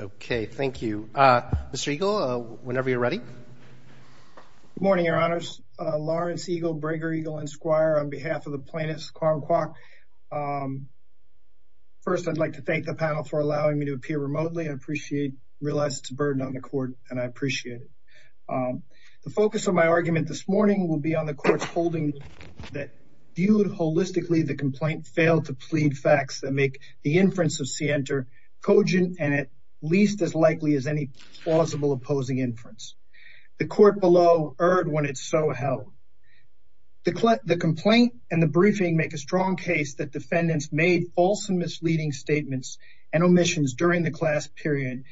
Okay, thank you. Mr. Eagle, whenever you're ready. Good morning, your honors. Lawrence Eagle, Breger Eagle, and Squire on behalf of the plaintiffs, Kwong Kwok. First, I'd like to thank the panel for allowing me to appear remotely. I appreciate, realize it's a burden on the court, and I appreciate it. The focus of my argument this morning will be on the court's holding that, viewed holistically, the complaint failed to plead facts that make the inference of Sienter cogent and at least as likely as any plausible opposing inference. The court below erred when it so held. The complaint and the briefing make a strong case that defendants made false and misleading statements and omissions during the class period,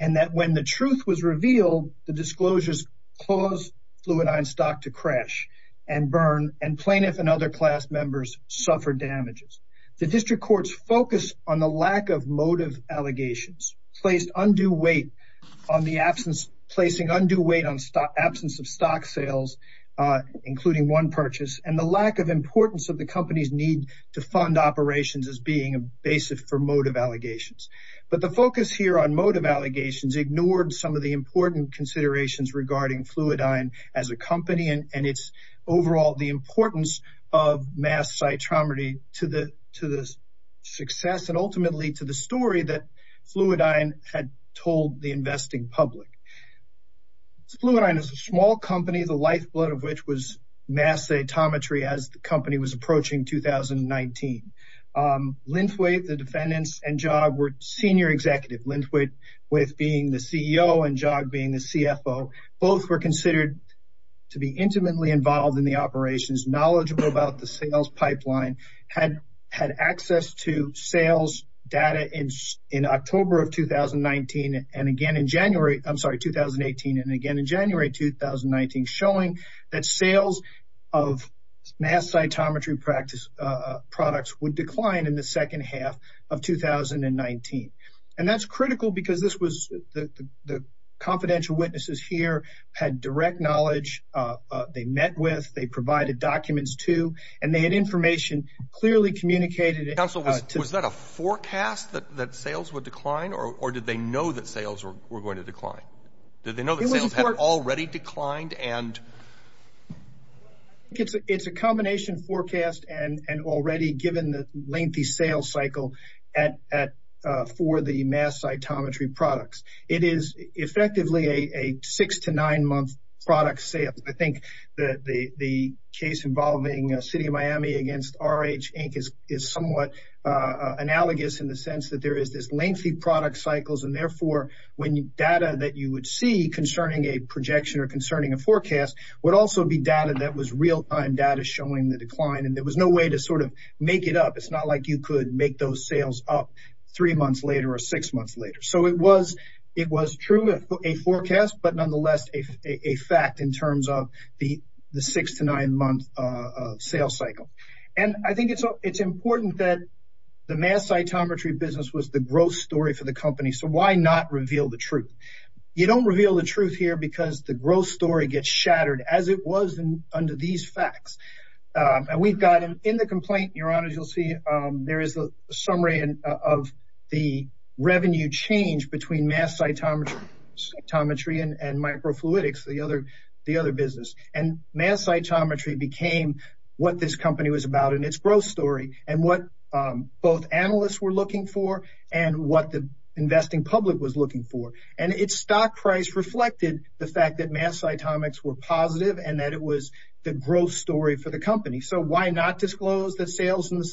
and that when the truth was revealed, the disclosures caused Fluidigm stock to crash and burn, and plaintiffs and other class members suffered damages. The district court's focus on the lack of motive allegations placed undue weight on the absence of stock sales, including one purchase, and the lack of importance of the company's need to fund operations as being a basis for motive allegations. But the focus here on motive allegations ignored some of the important considerations regarding Fluidigm as a company and its overall importance of mass cytometry to the success and ultimately to the story that Fluidigm had told the investing public. Fluidigm is a small company, the lifeblood of which was mass cytometry as the company was approaching 2019. Linthwaite, the defendants, and Jog were senior executives, Linthwaite being the CEO and Jog being the CFO. Both were considered to be intimately involved in the operations, knowledgeable about the sales pipeline, had access to sales data in October of 2019 and again in January, I'm sorry, 2018, and again in January 2019, showing that sales of mass cytometry products would decline in the second half of 2019. And that's critical because this was, the confidential witnesses here had direct knowledge, they met with, they provided documents to, and they had information clearly communicated. Counsel, was that a forecast that sales would decline or did they know that sales were going to decline? Did they know that sales had already declined? It's a combination forecast and already given the lengthy sales cycle for the mass cytometry products. It is effectively a six to nine month product sale. I think that the case involving City of Miami against RH Inc. is somewhat analogous in the sense that there is this lengthy product cycles and therefore when data that you would see concerning a projection or concerning a forecast would also be data that was real time data showing the decline and there was no way to sort of make it up. It's not like you could make those sales up three months later or six months later. So it was true, a forecast, but nonetheless a fact in terms of the six to nine month sales cycle. And I think it's important that the mass cytometry business was the growth story for the company. So why not reveal the truth? You don't reveal the truth here because the growth story gets shattered as it was under these facts. And we've got in the complaint, Your Honor, as you'll see, there is a summary of the revenue change between mass cytometry and microfluidics, the other business. And mass cytometry became what this company was about in its growth story and what both analysts were looking for and what the investing public was looking for. And its stock price reflected the fact that mass cytomics were positive and that it was the growth story for the company. So why not disclose that sales in the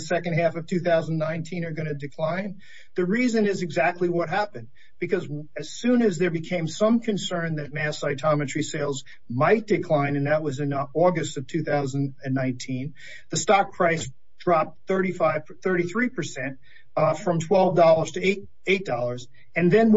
second half of 2019 are going to decline? The reason is exactly what happened. Because as soon as there became some concern that mass cytometry sales might decline, and that was in August of 2019, the stock price dropped 33 percent from $12 to $8. And then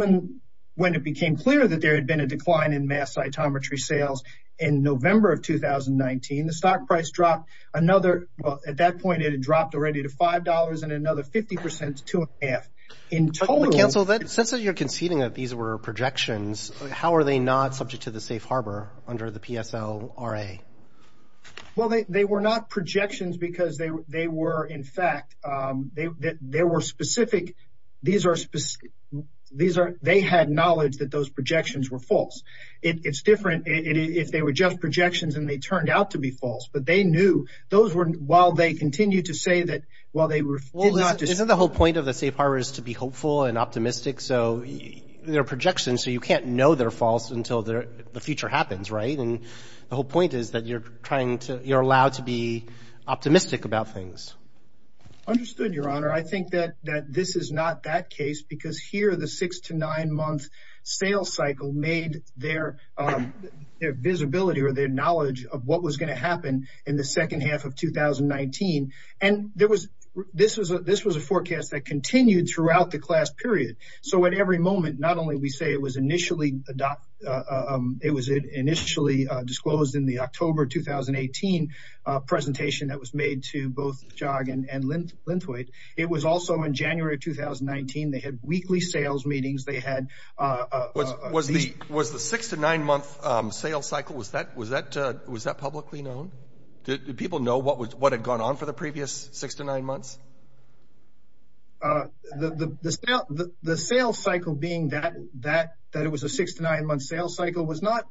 when it became clear that there had been a decline in mass cytometry sales in November of 2019, the stock price dropped another, well, at that point it had dropped already to $5 and another 50 percent to two and a half. In total. But counsel, since you're conceding that these were projections, how are they not subject to the safe harbor under the PSLRA? Well, they were not projections because they were, in fact, they were specific. These are, they had knowledge that those projections were false. It's different if they were just projections and they turned out to be false. But they knew, those were, while they continued to say that, well, they were false. Well, isn't the whole point of the safe harbor is to be hopeful and optimistic? So they're projections, so you can't know they're false until the future happens, right? And the whole point is that you're trying to, you're allowed to be optimistic about things. Understood, Your Honor. I think that this is not that case because here the six to nine month sales cycle made their visibility or their knowledge of what was going to happen in the second half of 2019. And there was, this was a forecast that continued throughout the class period. So at every moment, not only we say it was initially, it was initially disclosed in the October 2018 presentation that was made to both Jog and Linthwaite, it was also in January of 2019, they had weekly sales meetings, they had- Was the six to nine month sales cycle, was that publicly known? Did people know what had gone on for the previous six to nine months? The sales cycle being that it was a six to nine month sales cycle was not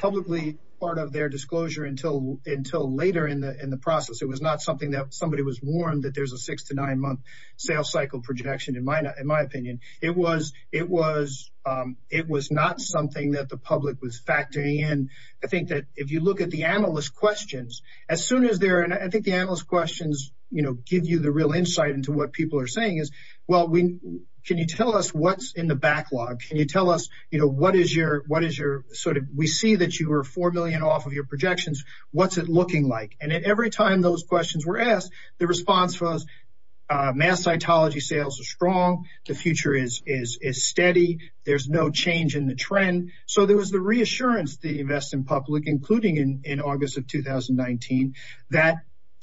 publicly part of their disclosure until later in the process. It was not something that somebody was warned that there's a six to nine month sales cycle projection in my opinion. It was, it was, it was not something that the public was factoring in. I think that if you look at the analyst questions, as soon as they're, and I think the analyst questions, you know, give you the real insight into what people are saying is, well, can you tell us what's in the backlog? Can you tell us, you know, what is your, what is your sort of, we see that you were 4 million off of your projections, what's it looking like? And at every time those questions were asked, the response was mass cytology sales are strong, the future is steady, there's no change in the trend. So there was the reassurance to invest in public, including in, in August of 2019, that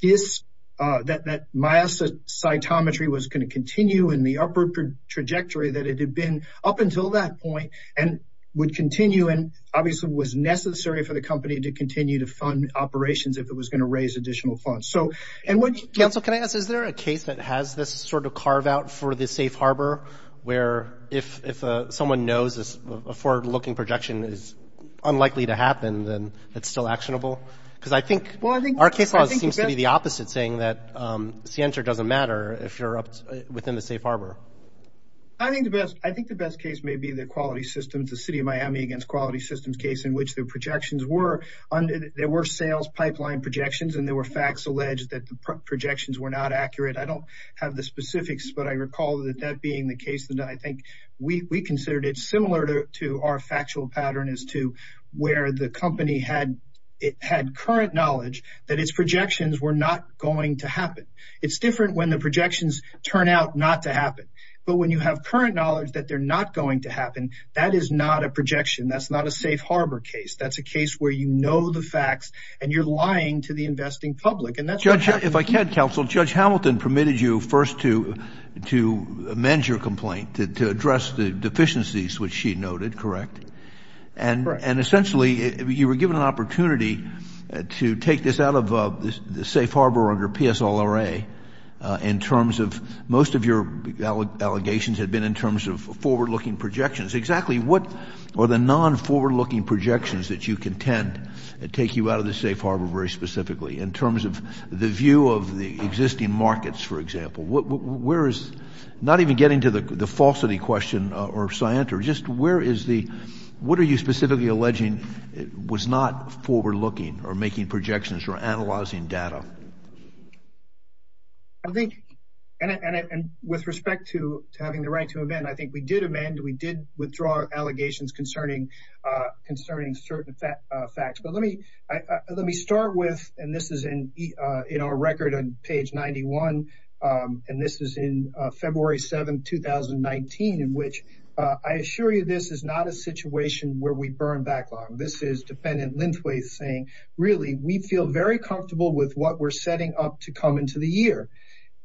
is, that, that mass cytometry was going to continue in the upper trajectory that it had been up until that point and would continue and obviously was necessary for the company to continue to fund operations if it was going to raise additional funds. So, and what, projections were not accurate. I don't have the specifics, but I recall that that being the case that I think we considered it similar to our factual pattern as to where the company had, it had current knowledge that its projections were not going to happen. It's different when the projections turn out not to happen, but when you have current knowledge that they're not going to happen, that is not a projection. That's not a safe harbor case. That's a case where you know the facts and you're lying to the investing public. And that's, Judge Hamilton permitted you first to, to amend your complaint to, to address the deficiencies, which she noted, correct? Correct. And, and essentially you were given an opportunity to take this out of the safe harbor under PSLRA in terms of most of your allegations had been in terms of forward looking projections. Exactly. What are the non-forward looking projections that you contend that take you out of the safe harbor very specifically in terms of the view of the existing markets, for example? Where is, not even getting to the falsity question or scienter, just where is the, what are you specifically alleging was not forward looking or making projections or analyzing data? I think, and I, and I, and with respect to having the right to amend, I think we did amend, we did withdraw allegations concerning, concerning certain facts, but let me, let me start with, and this is in our record on page 91. And this is in February 7th, 2019, in which I assure you, this is not a situation where we burn backlog. This is dependent lengthways saying, really, we feel very comfortable with what we're setting up to come into the year.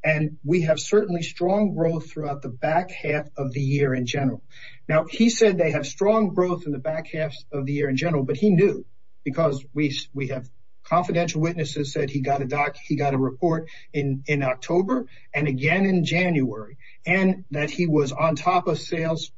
And we have certainly strong growth throughout the back half of the year in general. Now, he said they have strong growth in the back half of the year in general, but he knew because we, we have confidential witnesses said he got a doc. He got a report in, in October and again in January and that he was on top of sales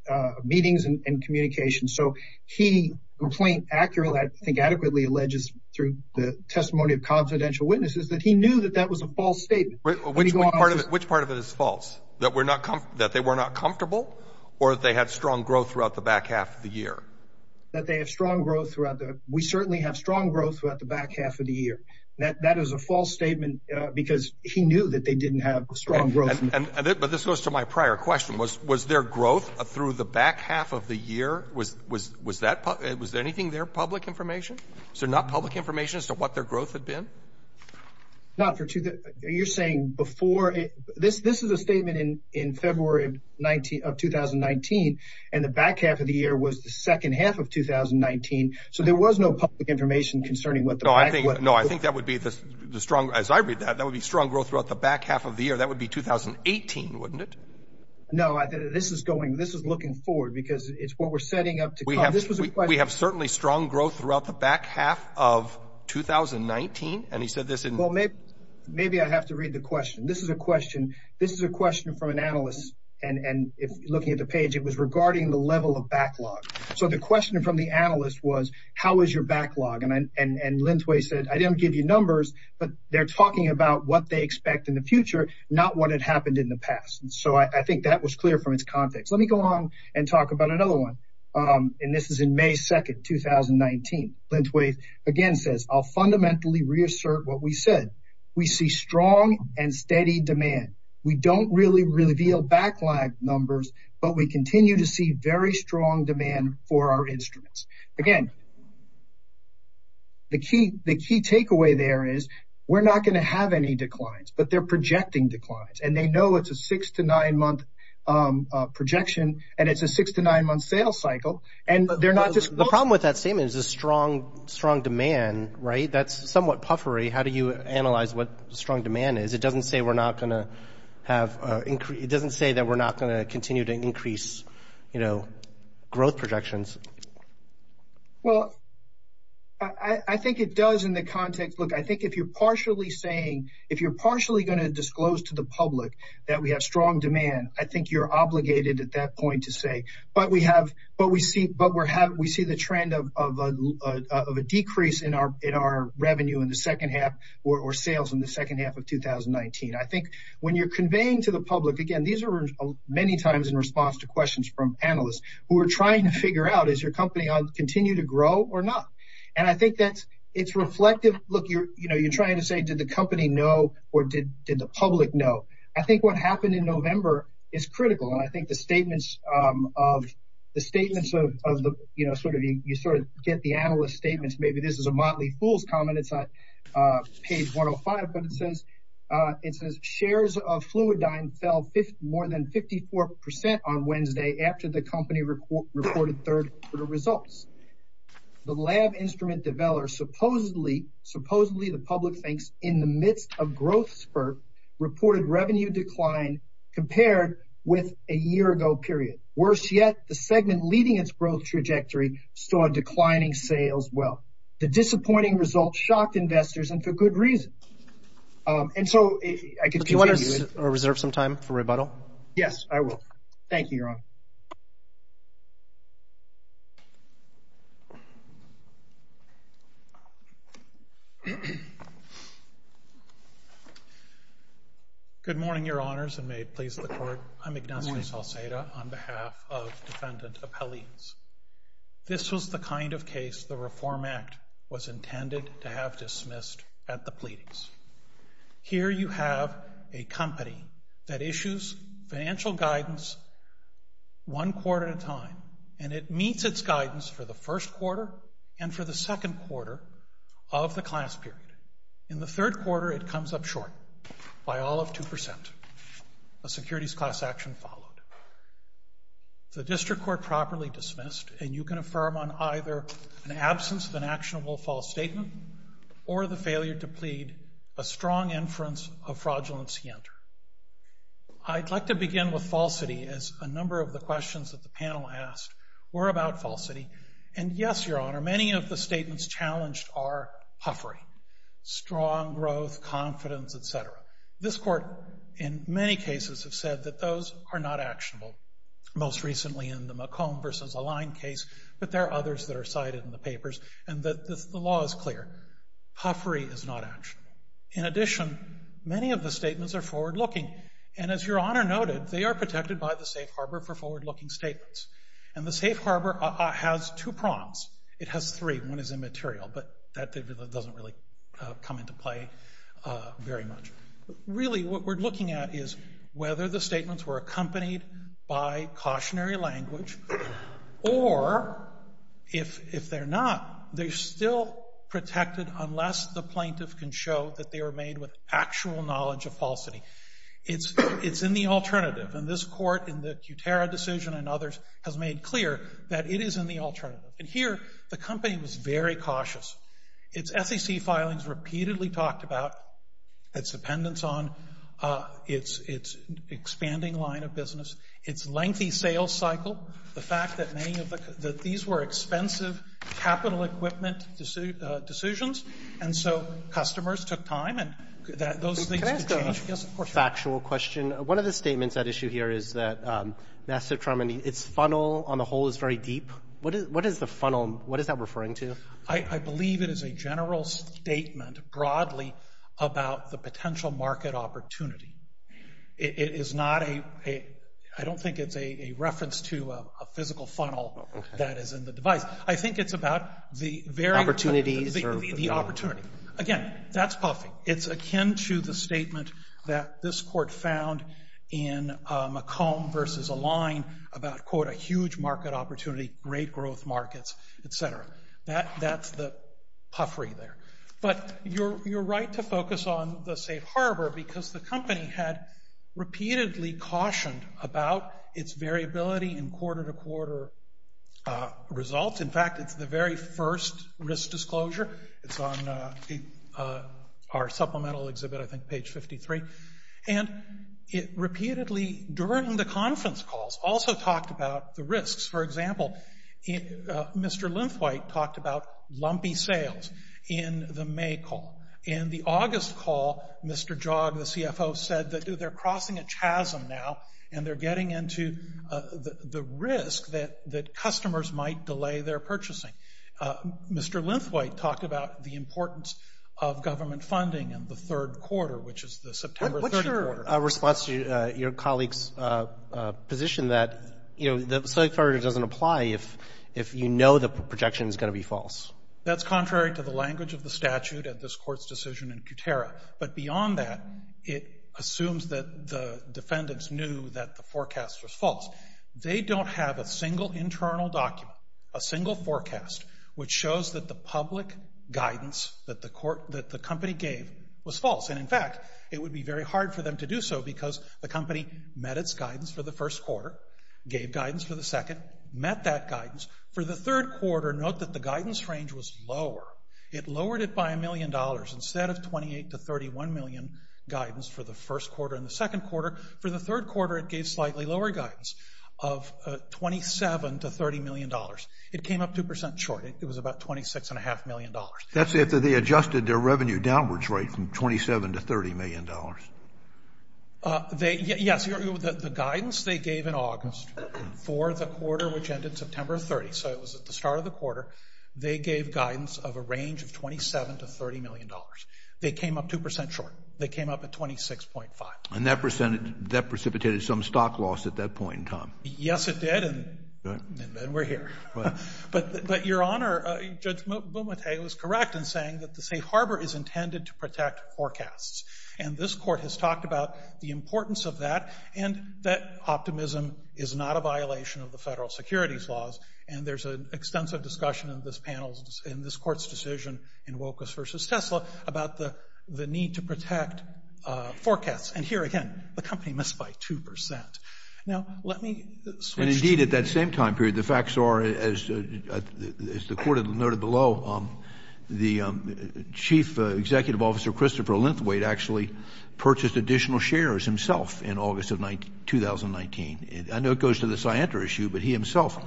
meetings and communication. So he complained accurately, I think adequately alleges through the testimony of confidential witnesses that he knew that that was a false statement. Which part of it is false, that we're not, that they were not comfortable or that they had strong growth throughout the back half of the year? That they have strong growth throughout the, we certainly have strong growth throughout the back half of the year. That, that is a false statement because he knew that they didn't have strong growth. But this goes to my prior question. Was, was there growth through the back half of the year? Was, was, was that, was there anything there, public information? So not public information as to what their growth had been? Not for two, you're saying before it, this, this is a statement in, in February 19 of 2019. And the back half of the year was the second half of 2019. So there was no public information concerning what the. No, I think, no, I think that would be the strong, as I read that, that would be strong growth throughout the back half of the year. That would be 2018, wouldn't it? No, this is going, this is looking forward because it's what we're setting up to. We have, we have certainly strong growth throughout the back half of 2019. And he said this. Well, maybe, maybe I have to read the question. This is a question. This is a question from an analyst. And looking at the page, it was regarding the level of backlog. So the question from the analyst was, how is your backlog? And, and, and Linthway said, I didn't give you numbers, but they're talking about what they expect in the future, not what had happened in the past. And so I think that was clear from its context. Let me go on and talk about another one. And this is in May 2nd, 2019. Linthway again says, I'll fundamentally reassert what we said. We see strong and steady demand. We don't really reveal backlog numbers, but we continue to see very strong demand for our instruments. Again, the key, the key takeaway there is we're not going to have any declines, but they're projecting declines. And they know it's a six to nine month projection. And it's a six to nine month sales cycle. And they're not just. The problem with that statement is a strong, strong demand, right? That's somewhat puffery. How do you analyze what strong demand is? It doesn't say we're not going to have, it doesn't say that we're not going to continue to increase, you know, growth projections. Well, I think it does in the context. Look, I think if you're partially saying, if you're partially going to disclose to the public that we have strong demand, I think you're obligated at that point to say, but we have, but we see, but we're having, we see the trend of a decrease in our, in our revenue in the second half or sales in the second half of 2019. I think when you're conveying to the public, again, these are many times in response to questions from panelists who are trying to figure out, is your company on continue to grow or not? And I think that's, it's reflective. Look, you're, you know, you're trying to say, did the company know, or did, did the public know? I think what happened in November is critical. And I think the statements of the statements of the, you know, sort of, you sort of get the analyst statements. Maybe this is a Motley Fool's comment. It's not page 105, but it says, it says shares of Fluidigm fell more than 54% on Wednesday after the company reported third quarter results. The lab instrument developer, supposedly, supposedly the public thinks in the midst of growth spurt reported revenue decline compared with a year ago, period. Worse yet, the segment leading its growth trajectory started declining sales. Well, the disappointing results shocked investors and for good reason. And so I can reserve some time for rebuttal. Yes, I will. Thank you, Your Honor. Good morning, Your Honors, and may it please the court. I'm Ignacio Salceda on behalf of defendant of Helene's. This was the kind of case the Reform Act was intended to have dismissed at the pleadings. Here you have a company that issues financial guidance one quarter at a time. And it meets its guidance for the first quarter and for the second quarter of the class period. In the third quarter, it comes up short by all of 2%. A securities class action followed. The district court properly dismissed. And you can affirm on either an absence of an actionable false statement or the failure to plead a strong inference of fraudulence he entered. I'd like to begin with falsity as a number of the questions that the panel asked were about falsity. And yes, Your Honor, many of the statements challenged are puffery, strong growth, confidence, et cetera. This court, in many cases, has said that those are not actionable. Most recently in the McComb versus Align case, but there are others that are cited in the papers. And the law is clear. Puffery is not actionable. In addition, many of the statements are forward-looking. And as Your Honor noted, they are protected by the safe harbor for forward-looking statements. And the safe harbor has two prongs. It has three. One is immaterial. But that doesn't really come into play very much. Really, what we're looking at is whether the statements were accompanied by cautionary language or, if they're not, they're still protected unless the plaintiff can show that they were made with actual knowledge of falsity. It's in the alternative. And this court, in the Kutera decision and others, has made clear that it is in the alternative. And here, the company was very cautious. Its SEC filings were repeatedly talked about, its dependence on, its expanding line of business, its lengthy sales cycle, the fact that many of the — that these were expensive capital equipment decisions, and so customers took time, and those things could change. Can I ask a factual question? One of the statements at issue here is that Master Truman, its funnel on the whole is very deep. What is the funnel? What is that referring to? I believe it is a general statement, broadly, about the potential market opportunity. It is not a — I don't think it's a reference to a physical funnel that is in the device. I think it's about the very — The opportunity. Again, that's puffy. It's akin to the statement that this court found in McComb versus Align about, quote, a huge market opportunity, great growth markets, et cetera. That's the puffery there. But you're right to focus on the safe harbor because the company had repeatedly cautioned about its variability in quarter-to-quarter results. In fact, it's the very first risk disclosure. It's on our supplemental exhibit, I think, page 53. And it repeatedly, during the conference calls, also talked about the risks. For example, Mr. Linthwaite talked about lumpy sales in the May call. In the August call, Mr. Jogg, the CFO, said that they're crossing a chasm now, and they're getting into the risk that customers might delay their purchasing. Mr. Linthwaite talked about the importance of government funding in the third quarter, which is the September 30 quarter. What's your response to your colleague's position that, you know, the safe harbor doesn't apply if you know the projection is going to be false? That's contrary to the language of the statute at this court's decision in Kutera. But beyond that, it assumes that the defendants knew that the forecast was false. They don't have a single internal document, a single forecast, which shows that the public guidance that the company gave was false. And, in fact, it would be very hard for them to do so because the company met its guidance for the first quarter, gave guidance for the second, met that guidance. For the third quarter, note that the guidance range was lower. It lowered it by a million dollars. Instead of 28 to 31 million guidance for the first quarter and the second quarter, for the third quarter it gave slightly lower guidance of 27 to 30 million dollars. It came up 2% short. It was about $26.5 million. That's after they adjusted their revenue downwards rate from 27 to 30 million dollars. Yes, the guidance they gave in August for the quarter, which ended September 30, so it was at the start of the quarter, they gave guidance of a range of 27 to 30 million dollars. They came up 2% short. They came up at 26.5. And that precipitated some stock loss at that point in time. Yes, it did, and we're here. But, Your Honor, Judge Boumet was correct in saying that the safe harbor is intended to protect forecasts. And this court has talked about the importance of that and that optimism is not a violation of the federal securities laws. And there's an extensive discussion in this panel, in this court's decision, in Wilkes v. Tesla, about the need to protect forecasts. And here, again, the company missed by 2%. Now, let me switch. And, indeed, at that same time period, the facts are, as the court noted below, the chief executive officer, Christopher Linthwaite, actually purchased additional shares himself in August of 2019. I know it goes to the Scientra issue, but he himself,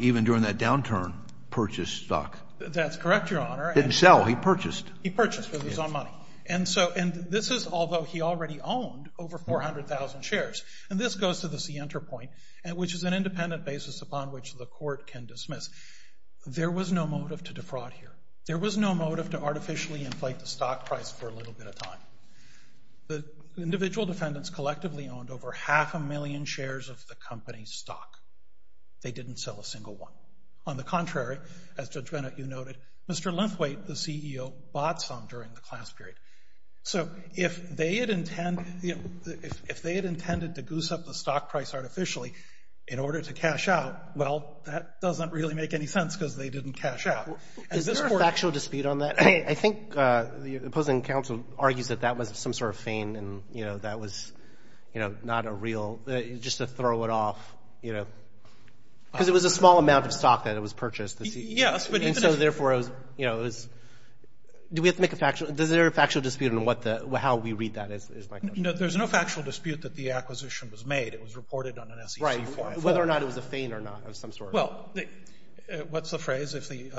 even during that downturn, purchased stock. That's correct, Your Honor. Didn't sell. He purchased. He purchased with his own money. And this is although he already owned over 400,000 shares. And this goes to the Scientra point, which is an independent basis upon which the court can dismiss. There was no motive to defraud here. There was no motive to artificially inflate the stock price for a little bit of time. The individual defendants collectively owned over half a million shares of the company's stock. They didn't sell a single one. On the contrary, as Judge Bennett, you noted, Mr. Linthwaite, the CEO, bought some during the class period. So if they had intended to goose up the stock price artificially in order to cash out, well, that doesn't really make any sense because they didn't cash out. Is there a factual dispute on that? I think the opposing counsel argues that that was some sort of feign and, you know, that was, you know, not a real just to throw it off, you know, because it was a small amount of stock that it was purchased. Yes. And so, therefore, it was, you know, it was do we have to make a factual, is there a factual dispute on what the, how we read that is my question. No, there's no factual dispute that the acquisition was made. It was reported on an SEC file. Right. Whether or not it was a feign or not of some sort. Well, what's the phrase? If the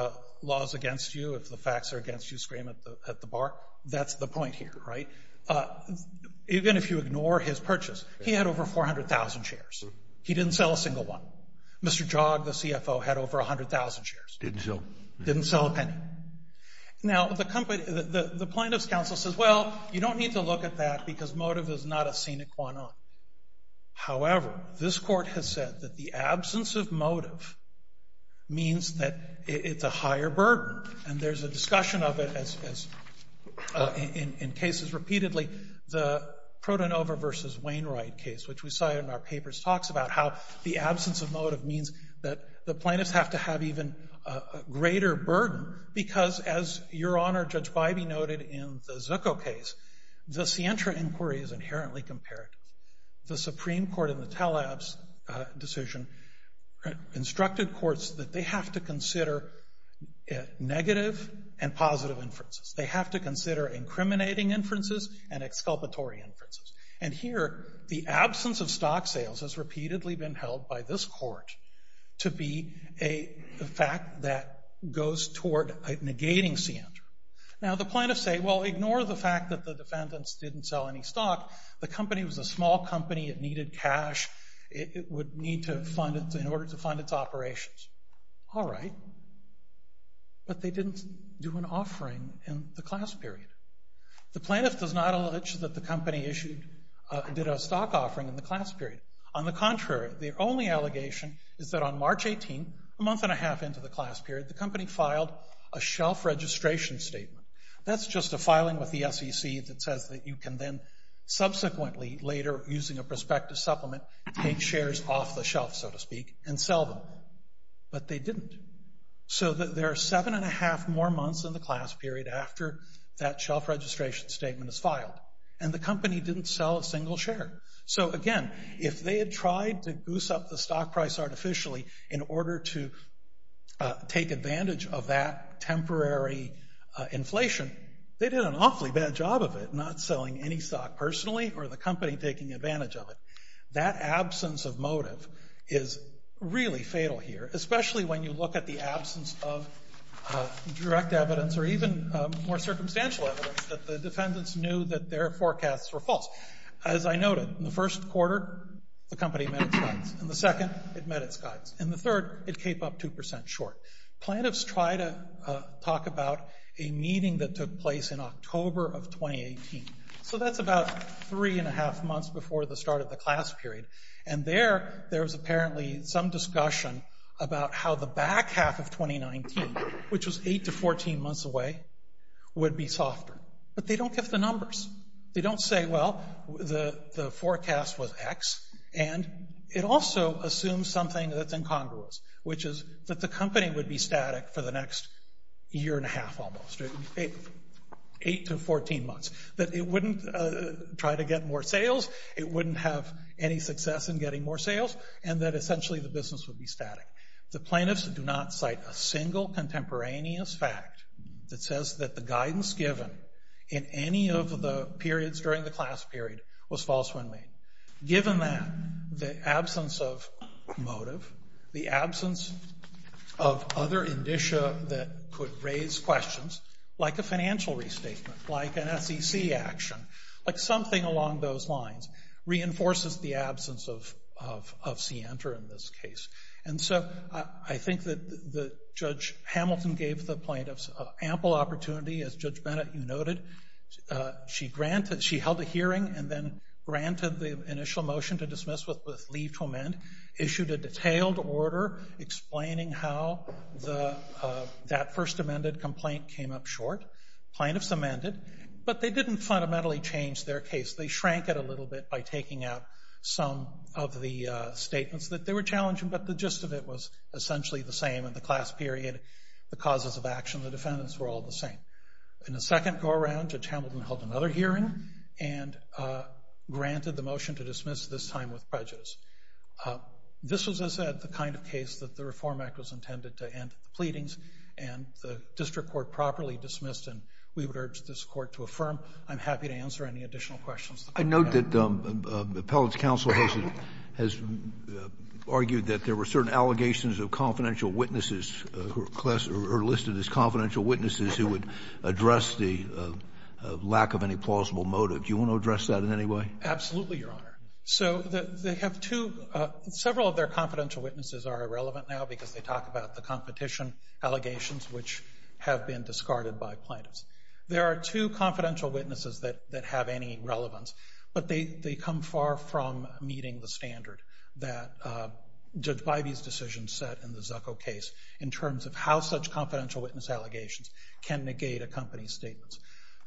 law is against you, if the facts are against you, scream at the bar. That's the point here, right? Even if you ignore his purchase, he had over 400,000 shares. He didn't sell a single one. Mr. Jogg, the CFO, had over 100,000 shares. Didn't sell. Didn't sell a penny. Now, the plaintiff's counsel says, well, you don't need to look at that because motive is not a scenic one-off. However, this Court has said that the absence of motive means that it's a higher burden, and there's a discussion of it in cases repeatedly. The Protonova v. Wainwright case, which we cited in our papers, talks about how the absence of motive means that the plaintiffs have to have even a greater burden because, as Your Honor, Judge Bybee noted in the Zucco case, the scientra inquiry is inherently comparative. The Supreme Court in the Telabs decision instructed courts that they have to consider negative and positive inferences. They have to consider incriminating inferences and exculpatory inferences. And here, the absence of stock sales has repeatedly been held by this Court to be a fact that goes toward negating scientra. Now, the plaintiffs say, well, ignore the fact that the defendants didn't sell any stock. The company was a small company. It needed cash. It would need to fund it in order to fund its operations. All right. But they didn't do an offering in the class period. The plaintiff does not allege that the company did a stock offering in the class period. On the contrary, their only allegation is that on March 18, a month and a half into the class period, the company filed a shelf registration statement. That's just a filing with the SEC that says that you can then subsequently later, using a prospective supplement, take shares off the shelf, so to speak, and sell them. But they didn't. So there are seven and a half more months in the class period after that shelf registration statement is filed. And the company didn't sell a single share. So, again, if they had tried to boost up the stock price artificially in order to take advantage of that temporary inflation, they did an awfully bad job of it, not selling any stock personally or the company taking advantage of it. That absence of motive is really fatal here, especially when you look at the absence of direct evidence or even more circumstantial evidence that the defendants knew that their forecasts were false. As I noted, in the first quarter, the company met its guides. In the second, it met its guides. In the third, it came up 2% short. Plaintiffs try to talk about a meeting that took place in October of 2018. So that's about three and a half months before the start of the class period. And there, there was apparently some discussion about how the back half of 2019, which was 8 to 14 months away, would be softer. But they don't give the numbers. They don't say, well, the forecast was X, and it also assumes something that's incongruous, which is that the company would be static for the next year and a half almost, 8 to 14 months, that it wouldn't try to get more sales, it wouldn't have any success in getting more sales, and that essentially the business would be static. The plaintiffs do not cite a single contemporaneous fact that says that the guidance given in any of the periods during the class period was false when made. Given that, the absence of motive, the absence of other indicia that could raise questions, like a financial restatement, like an SEC action, like something along those lines, reinforces the absence of scienter in this case. And so I think that Judge Hamilton gave the plaintiffs ample opportunity, as Judge Bennett, you noted. She held a hearing and then granted the initial motion to dismiss with leave to amend, issued a detailed order explaining how that first amended complaint came up short. Plaintiffs amended, but they didn't fundamentally change their case. They shrank it a little bit by taking out some of the statements that they were challenging, but the gist of it was essentially the same in the class period. The causes of action of the defendants were all the same. In the second go-around, Judge Hamilton held another hearing and granted the motion to dismiss, this time with prejudice. This was, as I said, the kind of case that the Reform Act was intended to end the pleadings, and the district court properly dismissed, and we would urge this court to affirm. I'm happy to answer any additional questions. I note that Appellate's counsel has argued that there were certain allegations of confidential witnesses who are listed as confidential witnesses who would address the lack of any plausible motive. Do you want to address that in any way? Absolutely, Your Honor. So they have two – several of their confidential witnesses are irrelevant now because they talk about the competition allegations which have been discarded by plaintiffs. There are two confidential witnesses that have any relevance, but they come far from meeting the standard that Judge Bivey's decision set in the Zucco case in terms of how such confidential witness allegations can negate a company's statements.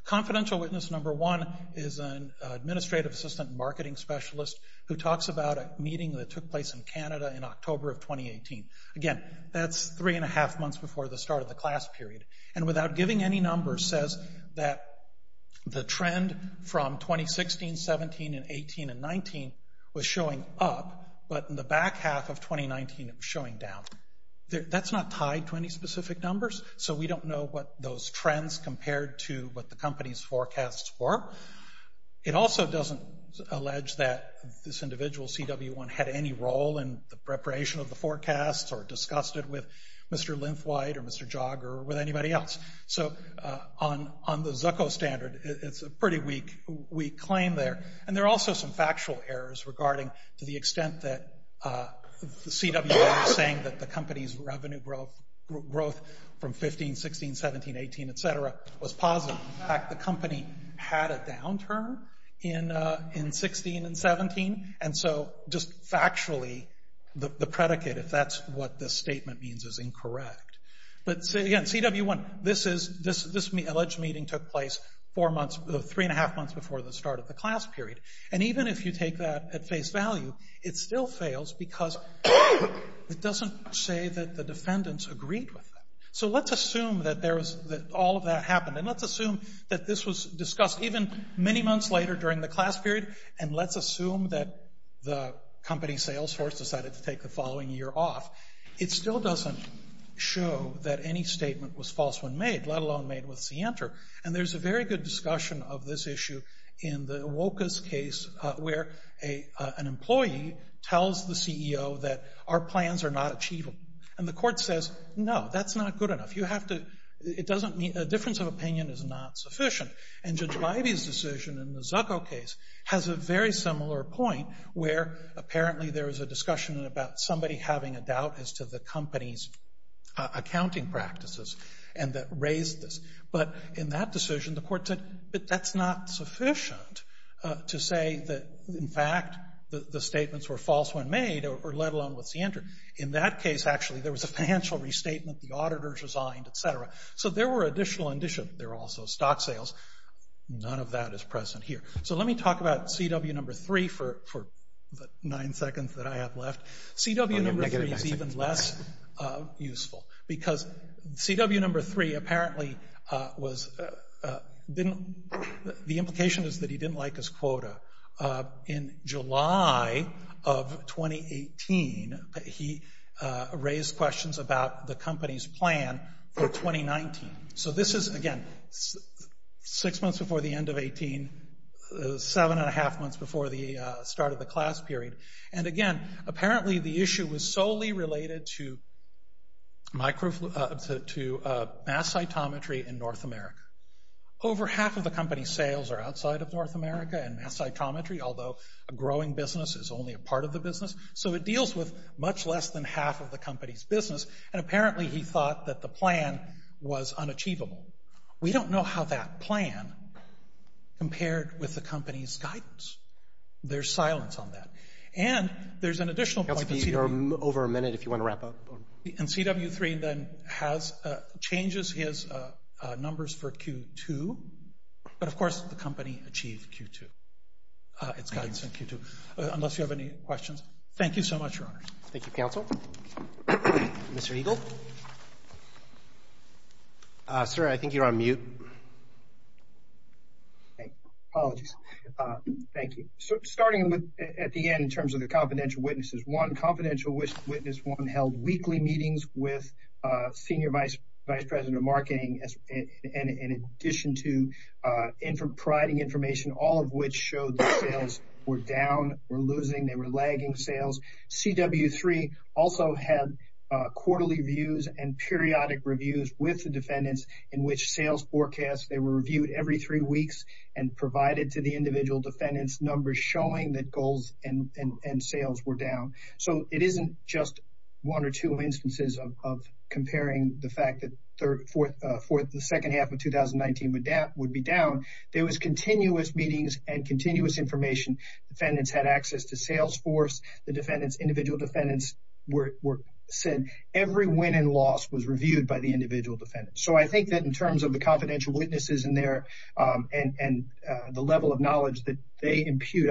Confidential witness number one is an administrative assistant marketing specialist who talks about a meeting that took place in Canada in October of 2018. Again, that's three and a half months before the start of the class period, and without giving any numbers says that the trend from 2016, 17, and 18, and 19 was showing up, but in the back half of 2019 it was showing down. That's not tied to any specific numbers, so we don't know what those trends compared to what the company's forecasts were. It also doesn't allege that this individual, CW1, had any role in the preparation of the forecasts or discussed it with Mr. Linthwide or Mr. Jager or with anybody else. So on the Zucco standard, it's a pretty weak claim there, and there are also some factual errors regarding to the extent that CW1 was saying that the company's revenue growth from 15, 16, 17, 18, et cetera, was positive. In fact, the company had a downturn in 16 and 17, and so just factually the predicate, if that's what this statement means, is incorrect. But again, CW1, this alleged meeting took place three and a half months before the start of the class period, and even if you take that at face value, it still fails because it doesn't say that the defendants agreed with it. So let's assume that all of that happened, and let's assume that this was discussed even many months later during the class period, and let's assume that the company's sales force decided to take the following year off. It still doesn't show that any statement was false when made, let alone made with Center, and there's a very good discussion of this issue in the WOCUS case where an employee tells the CEO that our plans are not achievable, and the court says, no, that's not good enough. You have to—it doesn't mean—a difference of opinion is not sufficient, and Judge Leiby's decision in the Zucco case has a very similar point where apparently there was a discussion about somebody having a doubt as to the company's accounting practices, and that raised this, but in that decision, the court said, but that's not sufficient to say that, in fact, the statements were false when made, or let alone with Center. In that case, actually, there was a financial restatement, the auditors resigned, et cetera, so there were additional—there were also stock sales. None of that is present here. So let me talk about CW number three for the nine seconds that I have left. CW number three is even less useful because CW number three apparently was— the implication is that he didn't like his quota. In July of 2018, he raised questions about the company's plan for 2019. So this is, again, six months before the end of 18, seven and a half months before the start of the class period, and again, apparently the issue was solely related to mass cytometry in North America. Over half of the company's sales are outside of North America and mass cytometry, although a growing business is only a part of the business, so it deals with much less than half of the company's business, and apparently he thought that the plan was unachievable. We don't know how that plan compared with the company's guidance. There's silence on that. And there's an additional point— That's over a minute if you want to wrap up. And CW three then changes his numbers for Q2, but, of course, the company achieved Q2, its guidance in Q2. Unless you have any questions. Thank you so much, Your Honor. Thank you, counsel. Mr. Eagle? Sir, I think you're on mute. Apologies. Thank you. Starting at the end in terms of the confidential witnesses, one confidential witness held weekly meetings with senior vice president of marketing in addition to providing information, all of which showed that sales were down, were losing, they were lagging sales. CW three also had quarterly views and periodic reviews with the defendants in which sales forecasts, they were reviewed every three weeks and provided to the individual defendants numbers showing that goals and sales were down. So it isn't just one or two instances of comparing the fact that the second half of 2019 would be down. There was continuous meetings and continuous information. Defendants had access to Salesforce. The defendants, individual defendants were said. Every win and loss was reviewed by the individual defendants. So I think that in terms of the confidential witnesses in there and the level of knowledge that they impute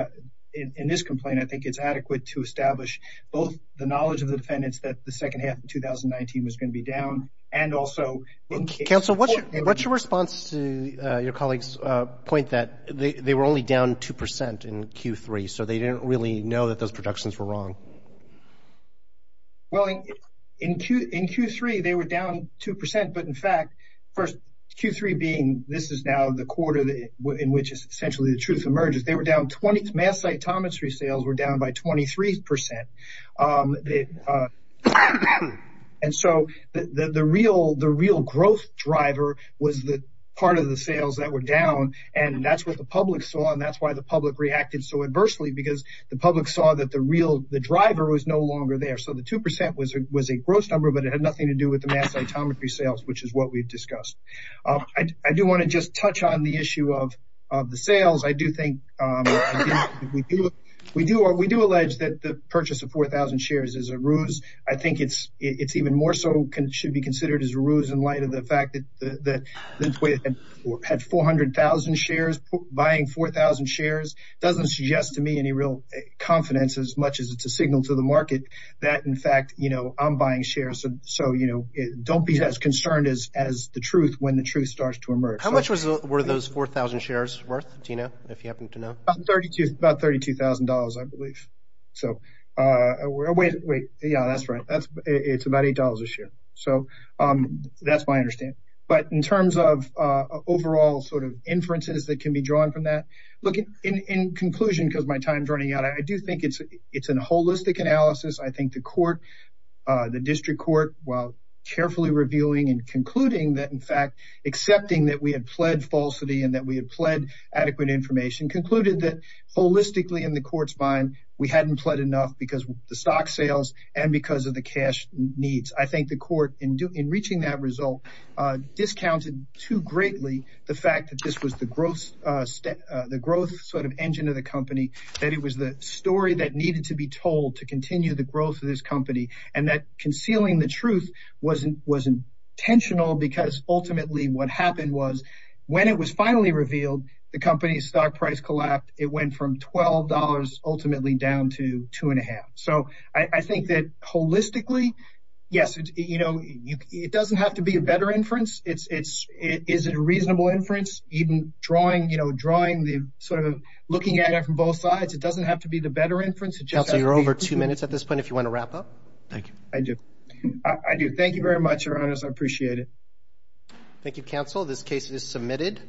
in this complaint, I think it's adequate to establish both the knowledge of the defendants that the second half of 2019 was going to be down and also in case. Counsel, what's your response to your colleague's point that they were only down 2% in Q3, so they didn't really know that those productions were wrong? Well, in Q3, they were down 2%. But in fact, first, Q3 being this is now the quarter in which essentially the truth emerges. They were down 20. Mass cytometry sales were down by 23%. And so the real growth driver was the part of the sales that were down, and that's what the public saw, and that's why the public reacted so adversely, because the public saw that the real driver was no longer there. So the 2% was a gross number, but it had nothing to do with the mass cytometry sales, which is what we've discussed. I do want to just touch on the issue of the sales. I do think we do allege that the purchase of 4,000 shares is a ruse. I think it's even more so should be considered as a ruse in light of the fact that Lymphoid had 400,000 shares. Buying 4,000 shares doesn't suggest to me any real confidence as much as it's a signal to the market that, in fact, I'm buying shares. So don't be as concerned as the truth when the truth starts to emerge. How much were those 4,000 shares worth, Tina, if you happen to know? About $32,000, I believe. Wait, yeah, that's right. It's about $8 a share. So that's my understanding. But in terms of overall sort of inferences that can be drawn from that, in conclusion, because my time's running out, I do think it's a holistic analysis. I think the court, the district court, while carefully reviewing and concluding that, in fact, accepting that we had pled falsity and that we had pled adequate information, concluded that holistically in the court's mind we hadn't pled enough because of the stock sales and because of the cash needs. I think the court, in reaching that result, discounted too greatly the fact that this was the growth sort of engine of the company, that it was the story that needed to be told to continue the growth of this company, and that concealing the truth wasn't intentional because ultimately what happened was when it was finally revealed, the company's stock price collapsed. It went from $12 ultimately down to $2.50. So I think that holistically, yes, you know, it doesn't have to be a better inference. Is it a reasonable inference? Even drawing, you know, drawing the sort of looking at it from both sides, it doesn't have to be the better inference. Counsel, you're over two minutes at this point if you want to wrap up. Thank you. I do. I do. Thank you very much, Your Honors. I appreciate it. Thank you, counsel. This case is submitted.